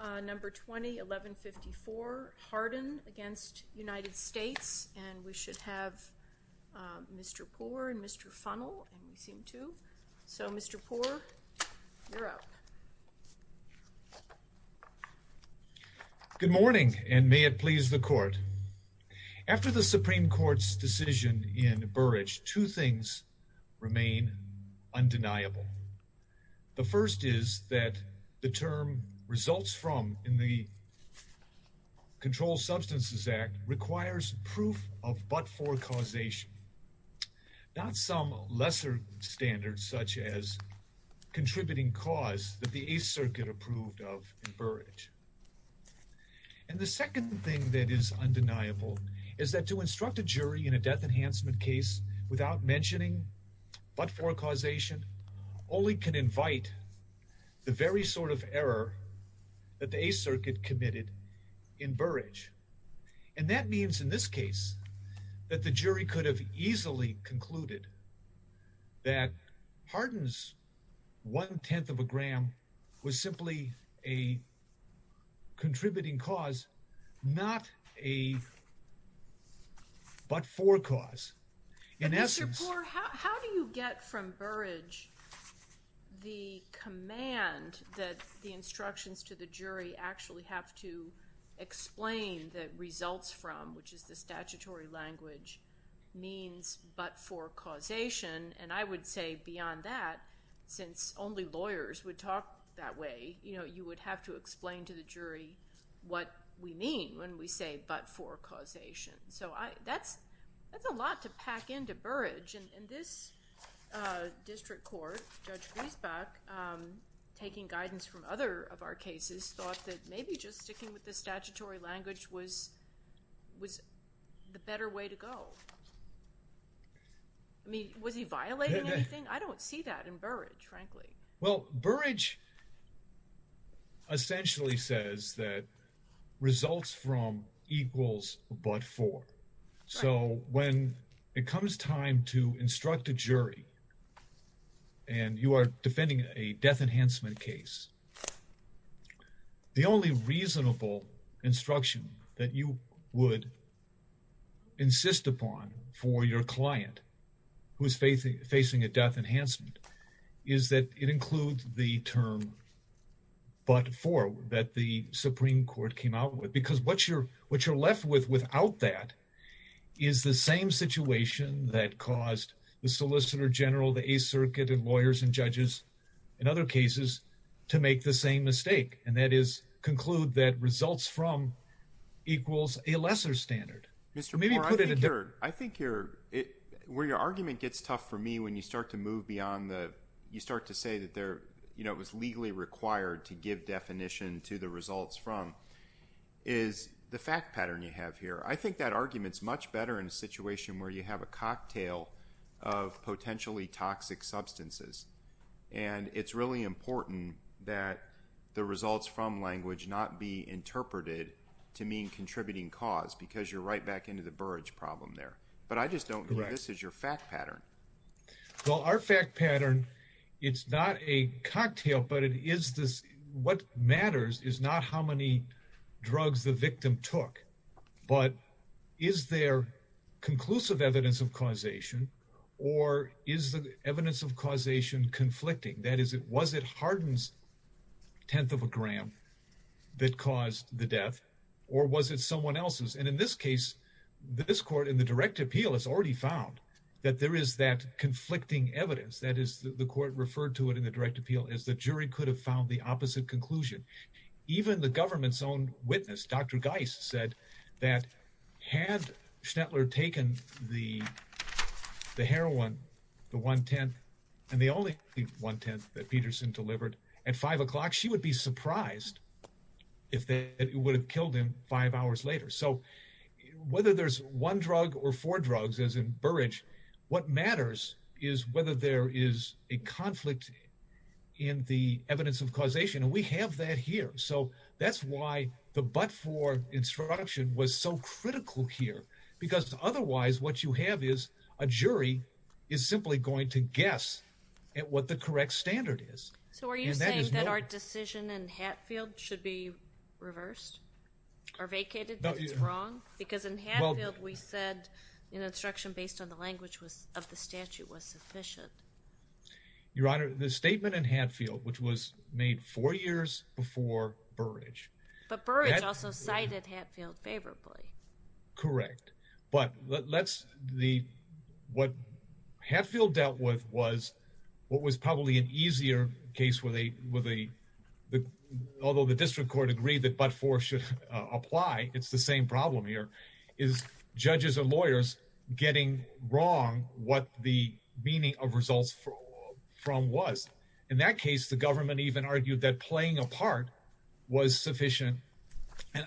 Good morning, and may it please the Court. After the Supreme Court's decision in Burridge, two things remain undeniable. The first is that the term results from in the Controlled Substances Act requires proof of but-for causation, not some lesser standard such as contributing cause that the Eighth Circuit approved of in Burridge. And the second thing that is undeniable is that to instruct a jury in a death enhancement case without mentioning but-for causation only can invite the very sort of error that the Eighth Circuit committed in Burridge. And that means in this case that the jury could have easily concluded that Harden's one-tenth of a gram was simply a contributing cause, not a but-for cause. In essence— Mr. Poore, how do you get from Burridge the command that the instructions to the jury actually have to explain that results from, which is the statutory language, means but-for causation? And I would say beyond that, since only lawyers would talk that way, you know, you would have to explain to the jury what we mean when we say but-for causation. So that's a lot to pack into Burridge, and this district court, Judge Griesbach, taking guidance from other of our cases, thought that maybe just sticking with the statutory language was the better way to go. I mean, was he violating anything? I don't see that in Burridge, frankly. Well, Burridge essentially says that results from equals but-for. So when it comes time to instruct a jury, and you are defending a death enhancement case, the only reasonable instruction that you would insist upon for your client who is facing a death enhancement is that it includes the term but-for that the Supreme Court came out with. Because what you're left with without that is the same situation that caused the Solicitor to make the same mistake, and that is conclude that results from equals a lesser standard. Mr. Poore, I think you're, where your argument gets tough for me when you start to move beyond the, you start to say that there, you know, it was legally required to give definition to the results from, is the fact pattern you have here. I think that argument's much better in a situation where you have a cocktail of potentially toxic substances, and it's really important that the results from language not be interpreted to mean contributing cause, because you're right back into the Burridge problem there. But I just don't know. This is your fact pattern. Well, our fact pattern, it's not a cocktail, but it is this, what matters is not how many drugs the victim took, but is there conclusive evidence of causation, or is the evidence of causation conflicting? That is, was it Hardin's tenth of a gram that caused the death, or was it someone else's? And in this case, this court in the direct appeal has already found that there is that conflicting evidence, that is, the court referred to it in the direct appeal as the jury could have found the opposite conclusion. Even the government's own witness, Dr. Geis, said that had Schnetler taken the heroin, the one-tenth, and the only one-tenth that Peterson delivered at five o'clock, she would be surprised if that would have killed him five hours later. So whether there's one drug or four drugs, as in Burridge, what matters is whether there is a conflict in the evidence of causation, and we have that here. So that's why the but-for instruction was so critical here, because otherwise what you have is a jury is simply going to guess at what the correct standard is. So are you saying that our decision in Hatfield should be reversed or vacated, that it's wrong? Because in Hatfield we said an instruction based on the language of the statute was sufficient. Your Honor, the statement in Hatfield, which was made four years before Burridge. But Burridge also cited Hatfield favorably. Correct. But what Hatfield dealt with was what was probably an easier case, although the district court agreed that but-for should apply, it's the same problem here, is judges or lawyers getting wrong what the meaning of results from was. In that case, the government even argued that playing a part was sufficient,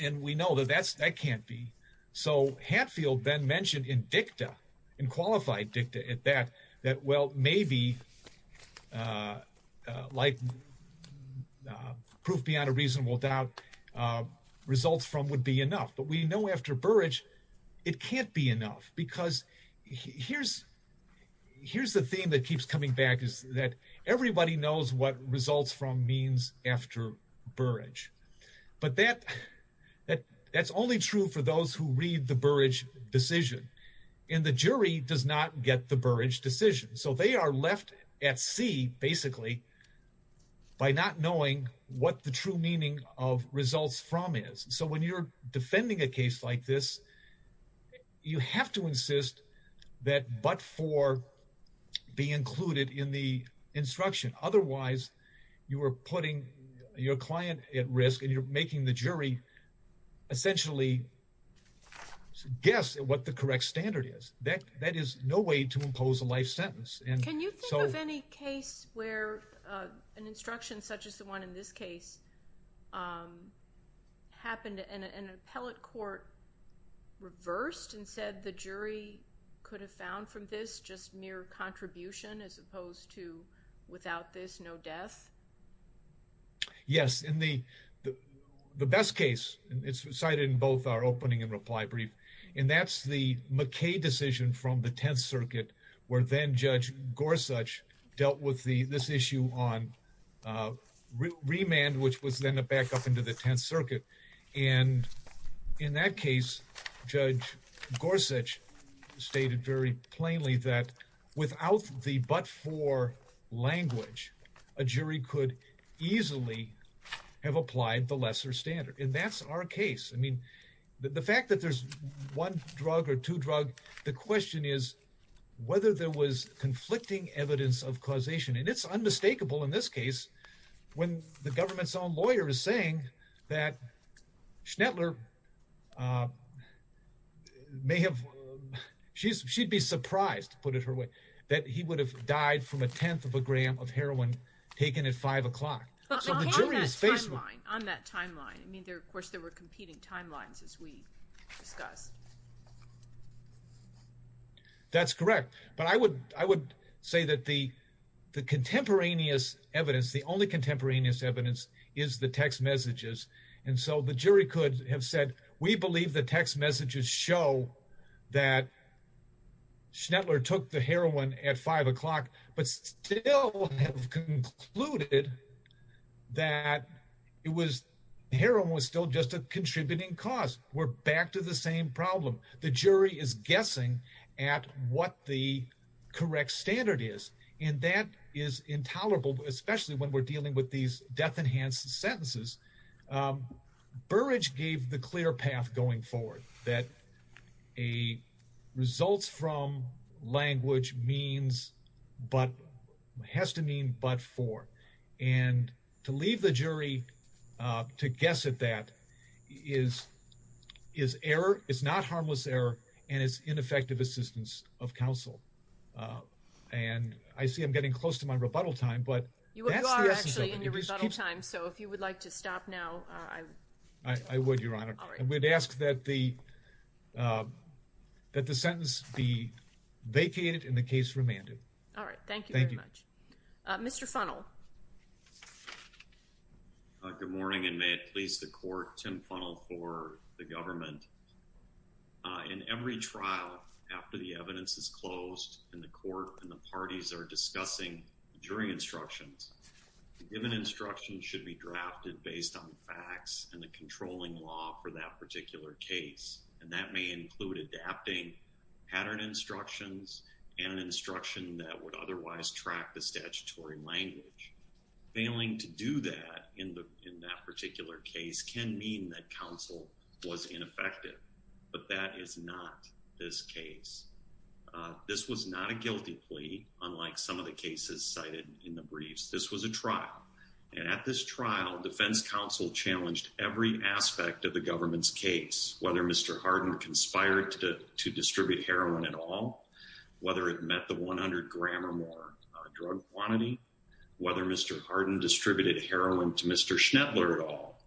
and we know that that can't be. So Hatfield then mentioned in dicta, in qualified dicta at that, that well, maybe like proof beyond a reasonable doubt, results from would be enough. But we know after Burridge it can't be enough, because here's the thing that keeps coming back is that everybody knows what results from means after Burridge. But that's only true for those who read the Burridge decision, and the jury does not get the Burridge decision. So they are left at sea, basically, by not knowing what the true meaning of results from is. So when you're defending a case like this, you have to insist that but-for be included in the instruction. Otherwise, you are putting your client at risk, and you're making the jury essentially guess at what the correct standard is. That is no way to impose a life sentence. And so— Can you think of any case where an instruction such as the one in this case happened and an appellate court reversed and said the jury could have found from this just mere contribution as opposed to without this, no death? Yes. In the best case, it's cited in both our opening and reply brief, and that's the McKay decision from the Tenth Circuit where then-Judge Gorsuch dealt with this issue on remand, which was then a backup into the Tenth Circuit. And in that case, Judge Gorsuch stated very plainly that without the but-for language, a jury could easily have applied the lesser standard. And that's our case. I mean, the fact that there's one drug or two drug, the question is whether there was conflicting evidence of causation. And it's unmistakable in this case when the government's own lawyer is saying that Schnettler may have—she'd be surprised, to put it her way, that he would have died from a tenth of a gram of heroin taken at 5 o'clock. But on that timeline, I mean, of course, there were competing timelines as we discussed. That's correct. But I would say that the contemporaneous evidence, the only contemporaneous evidence, is the text messages. And so the jury could have said, we believe the text messages show that Schnettler took the heroin at 5 o'clock, but still have concluded that it was—heroin was still just a contributing cause. We're back to the same problem. The jury is guessing at what the correct standard is, and that is intolerable, especially when we're dealing with these death-enhanced sentences. Burrage gave the clear path going forward, that a results-from language means but—has to mean but for. And to leave the jury to guess at that is error, it's not harmless error, and it's ineffective assistance of counsel. And I see I'm getting close to my rebuttal time, but that's the essence of it. You are actually in your rebuttal time, so if you would like to stop now, I would. I would, Your Honor. I would ask that the sentence be vacated and the case remanded. All right. Thank you very much. Mr. Funnell. Good morning, and may it please the Court, Tim Funnell for the government. In every trial, after the evidence is closed and the Court and the parties are discussing jury instructions, the given instructions should be drafted based on the facts and the controlling law for that particular case. And that may include adapting pattern instructions and an instruction that would otherwise track the statutory language. Failing to do that in that particular case can mean that counsel was ineffective, but that is not this case. This was not a guilty plea, unlike some of the cases cited in the briefs. This was a trial, and at this trial, defense counsel challenged every aspect of the government's case, whether Mr. Hardin conspired to distribute heroin at all, whether it met the 100-gram drug quantity, whether Mr. Hardin distributed heroin to Mr. Schnettler at all,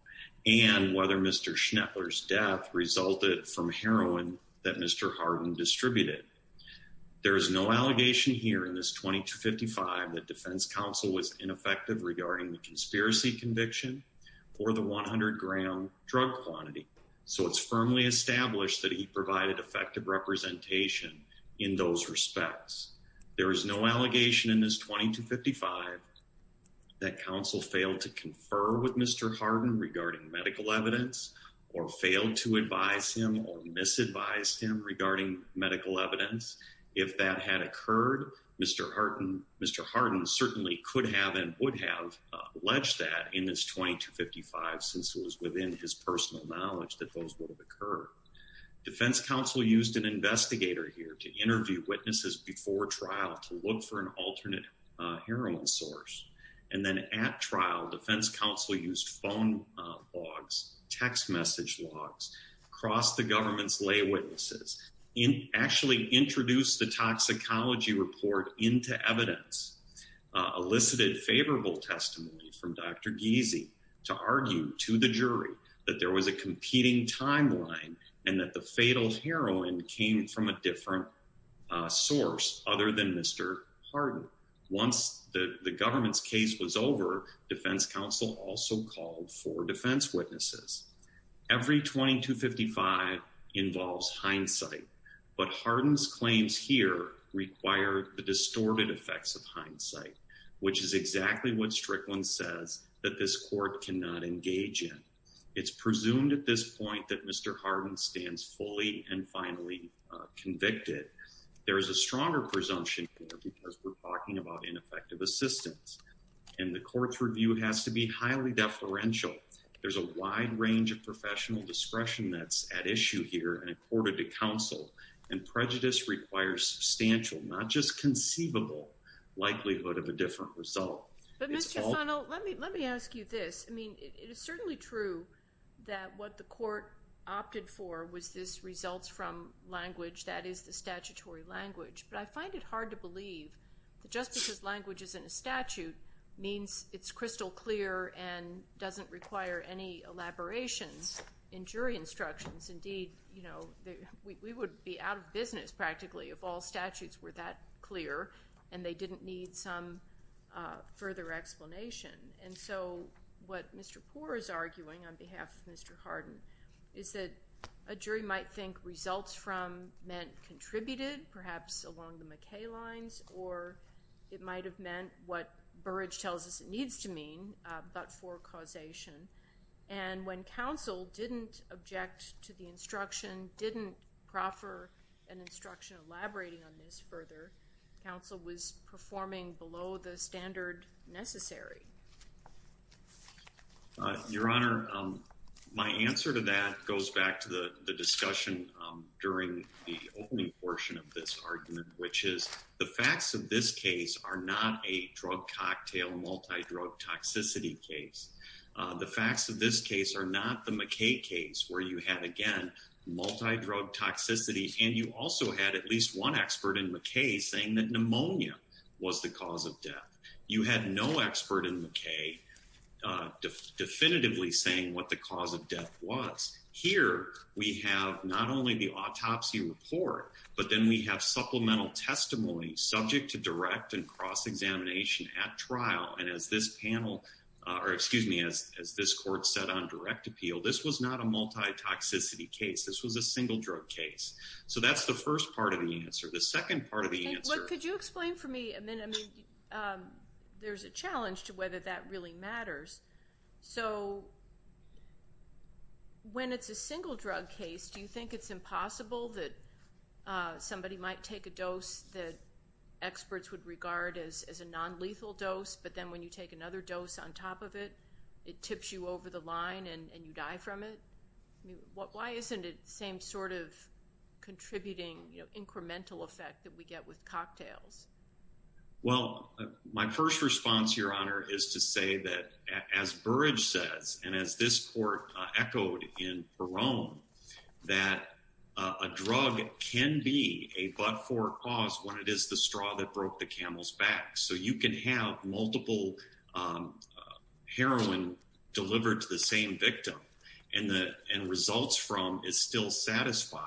and whether Mr. Schnettler's death resulted from heroin that Mr. Hardin distributed. There is no allegation here in this 2255 that defense counsel was ineffective regarding the conspiracy conviction or the 100-gram drug quantity, so it's firmly established that he provided effective representation in those respects. There is no allegation in this 2255 that counsel failed to confer with Mr. Hardin regarding medical evidence or failed to advise him or misadvise him regarding medical evidence. If that had occurred, Mr. Hardin certainly could have and would have alleged that in this 2255, since it was within his personal knowledge that those would have occurred. Defense counsel used an investigator here to interview witnesses before trial to look for an alternate heroin source, and then at trial, defense counsel used phone logs, text message logs across the government's lay witnesses, actually introduced the toxicology report into evidence, elicited favorable testimony from Dr. Giese to argue to the jury that there was a competing timeline and that the fatal heroin came from a different source other than Mr. Hardin. Once the government's case was over, defense counsel also called for defense witnesses. Every 2255 involves hindsight, but Hardin's claims here require the distorted effects of hindsight, which is exactly what Strickland says that this court cannot engage in. It's presumed at this point that Mr. Hardin stands fully and finally convicted. There is a stronger presumption here because we're talking about ineffective assistance, and the court's review has to be highly deferential. There's a wide range of professional discretion that's at issue here and accorded to counsel, and prejudice requires substantial, not just conceivable, likelihood of a different result. But Mr. Funnell, let me ask you this. I mean, it is certainly true that what the court opted for was this results from language that is the statutory language, but I find it hard to believe that just because language isn't a statute means it's crystal clear and doesn't require any elaborations in jury instructions. Indeed, we would be out of business practically if all statutes were that clear and they didn't need some further explanation. And so what Mr. Poore is arguing on behalf of Mr. Hardin is that a jury might think results from meant contributed, perhaps along the McKay lines, or it might have meant what Burrage tells us it needs to mean, but for causation. And when counsel didn't object to the instruction, didn't proffer an instruction elaborating on this further, counsel was performing below the standard necessary. Your Honor, my answer to that goes back to the discussion during the opening portion of this argument, which is the facts of this case are not a drug cocktail, multi-drug toxicity case. The facts of this case are not the McKay case where you had, again, multi-drug toxicity and you also had at least one expert in McKay saying that pneumonia was the cause of death. You had no expert in McKay definitively saying what the cause of death was. Here, we have not only the autopsy report, but then we have supplemental testimony subject to direct and cross-examination at trial. And as this panel, or excuse me, as this court set on direct appeal, this was not a multi-toxicity case. This was a single drug case. So that's the first part of the answer. The second part of the answer... Could you explain for me a minute? I mean, there's a challenge to whether that really matters. So when it's a single drug case, do you think it's impossible that somebody might take a dose that experts would regard as a non-lethal dose, but then when you take another dose on top of it, it tips you over the line and you die from it? Why isn't it the same sort of contributing incremental effect that we get with cocktails? Well, my first response, Your Honor, is to say that as Burrage says, and as this court echoed in Barone, that a drug can be a but-for cause when it is the straw that broke the camel's back. So you can have multiple heroin delivered to the same victim and results from is still satisfied.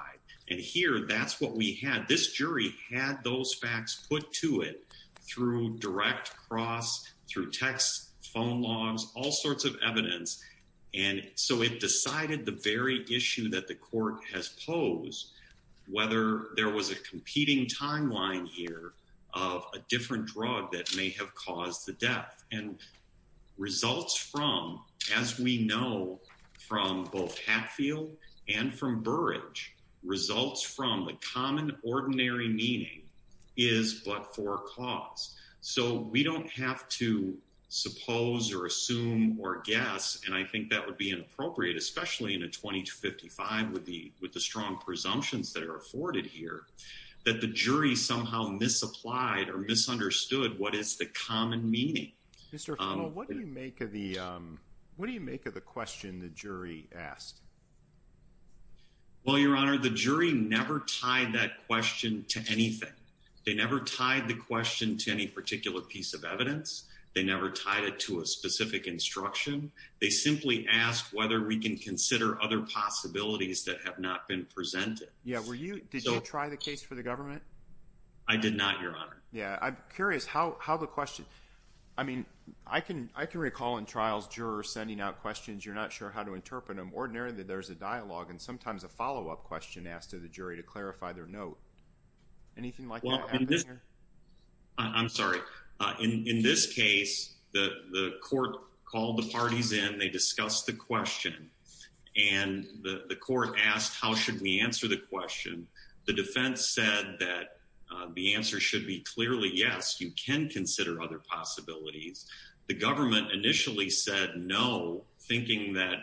And here, that's what we had. This jury had those facts put to it through direct cross, through text, phone logs, all sorts of evidence. And so it decided the very issue that the court has posed, whether there was a competing timeline here of a different drug that may have caused the death. And results from, as we know from both Hatfield and from Burrage, results from the common ordinary meaning is but-for-cause. So we don't have to suppose or assume or guess, and I think that would be inappropriate, especially in a 20 to 55 with the strong presumptions that are afforded here, that the jury somehow misapplied or misunderstood what is the common meaning. Mr. Fennel, what do you make of the question the jury asked? Well, Your Honor, the jury never tied that question to anything. They never tied the question to any particular piece of evidence. They never tied it to a specific instruction. They simply asked whether we can consider other possibilities that have not been presented. Yeah, were you, did you try the case for the government? I did not, Your Honor. Yeah, I'm curious how the question, I mean, I can recall in trials, jurors sending out questions, you're not sure how to interpret them. Ordinarily, there's a dialogue and sometimes a follow-up question asked to the jury to clarify their note. Anything like that happen here? I'm sorry, in this case, the court called the parties in, they discussed the question and the court asked, how should we answer the question? The defense said that the answer should be clearly, yes, you can consider other possibilities. The government initially said no, thinking that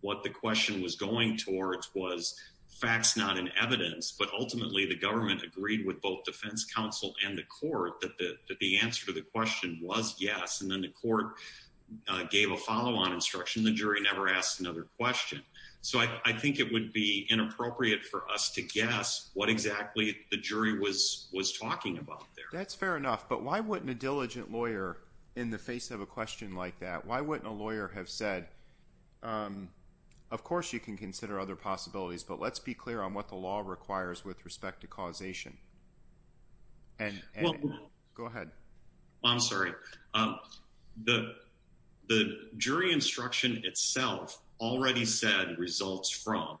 what the question was going towards was facts, not an evidence. But ultimately, the government agreed with both defense counsel and the court that the answer to the question was yes. And then the court gave a follow-on instruction. The jury never asked another question. So I think it would be inappropriate for us to guess what exactly the jury was talking about there. That's fair enough. But why wouldn't a diligent lawyer, in the face of a question like that, why wouldn't a lawyer have said, of course you can consider other possibilities, but let's be clear on what the law requires with respect to causation? Go ahead. I'm sorry. The jury instruction itself already said results from.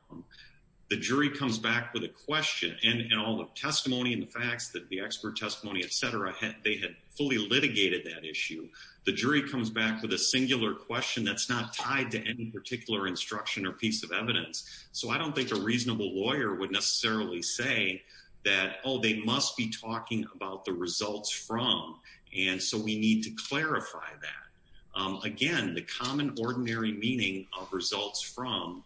The jury comes back with a question and all the testimony and the facts that the expert testimony, et cetera, they had fully litigated that issue. The jury comes back with a singular question that's not tied to any particular instruction or piece of evidence. So I don't think a reasonable lawyer would necessarily say that, oh, they must be talking about the results from. And so we need to clarify that. Again, the common ordinary meaning of results from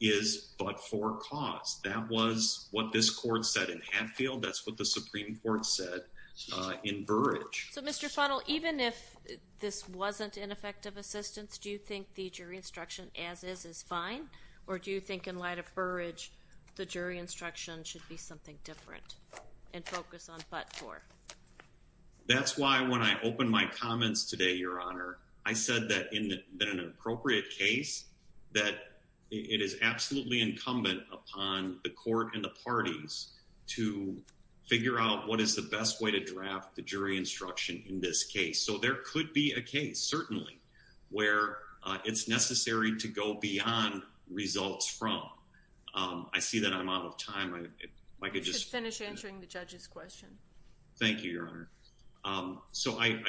is but for cause. That was what this court said in Hatfield. That's what the Supreme Court said in Burridge. So, Mr. Funnell, even if this wasn't ineffective assistance, do you think the jury instruction as is is fine? Or do you think in light of Burridge, the jury instruction should be something different and focus on but for? That's why when I opened my comments today, Your Honor, I said that in an appropriate case that it is absolutely incumbent upon the court and the parties to figure out what is the best way to draft the jury instruction in this case. So there could be a case, certainly, where it's necessary to go beyond results from. I see that I'm out of time. I could just finish answering the judge's question. Thank you, Your Honor. So I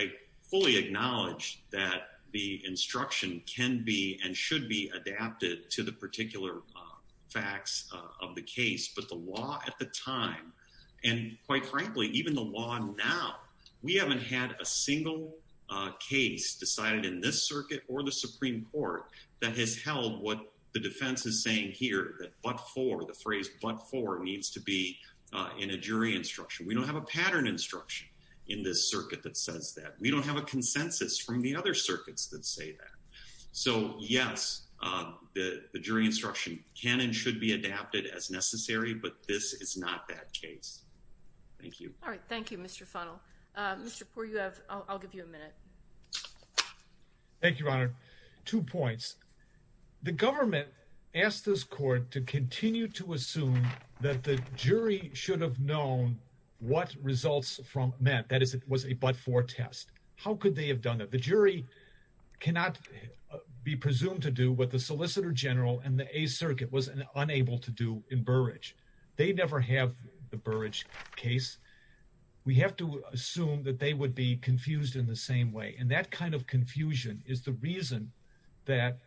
fully acknowledge that the instruction can be and should be adapted to the particular facts of the case. But the law at the time, and quite frankly, even the law now, we haven't had a single case decided in this circuit or the Supreme Court that has held what the defense is saying here, that but for, the phrase but for needs to be in a jury instruction. We don't have a pattern instruction in this circuit that says that. We don't have a consensus from the other circuits that say that. So yes, the jury instruction can and should be adapted as necessary, but this is not that case. Thank you. All right. Thank you, Mr. Funnell. Mr. Poore, you have, I'll give you a minute. Thank you, Your Honor. Two points. The government asked this court to continue to assume that the jury should have known what results from meant, that is, it was a but for test. How could they have done that? The jury cannot be presumed to do what the Solicitor General and the Eighth Circuit was unable to do in Burrage. They never have the Burrage case. We have to assume that they would be confused in the same way. And that kind of confusion is the reason that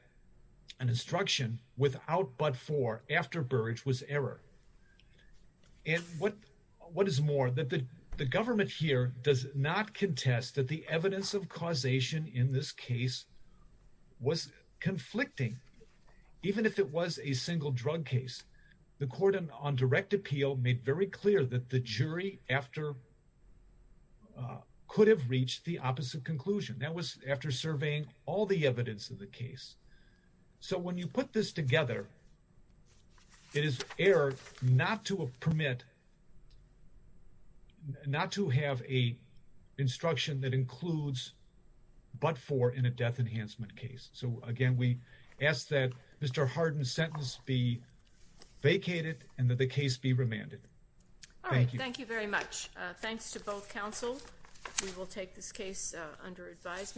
an instruction without but for after Burrage was error. And what is more, that the government here does not contest that the evidence of causation in this case was conflicting, even if it was a single drug case. The court on direct appeal made very clear that the jury after, could have reached the opposite conclusion. That was after surveying all the evidence of the case. So when you put this together, it is error not to permit, not to have a instruction that includes but for in a death enhancement case. So again, we ask that Mr. Harden's sentence be vacated and that the case be remanded. All right. Thank you very much. Thanks to both counsel. We will take this case under advisement.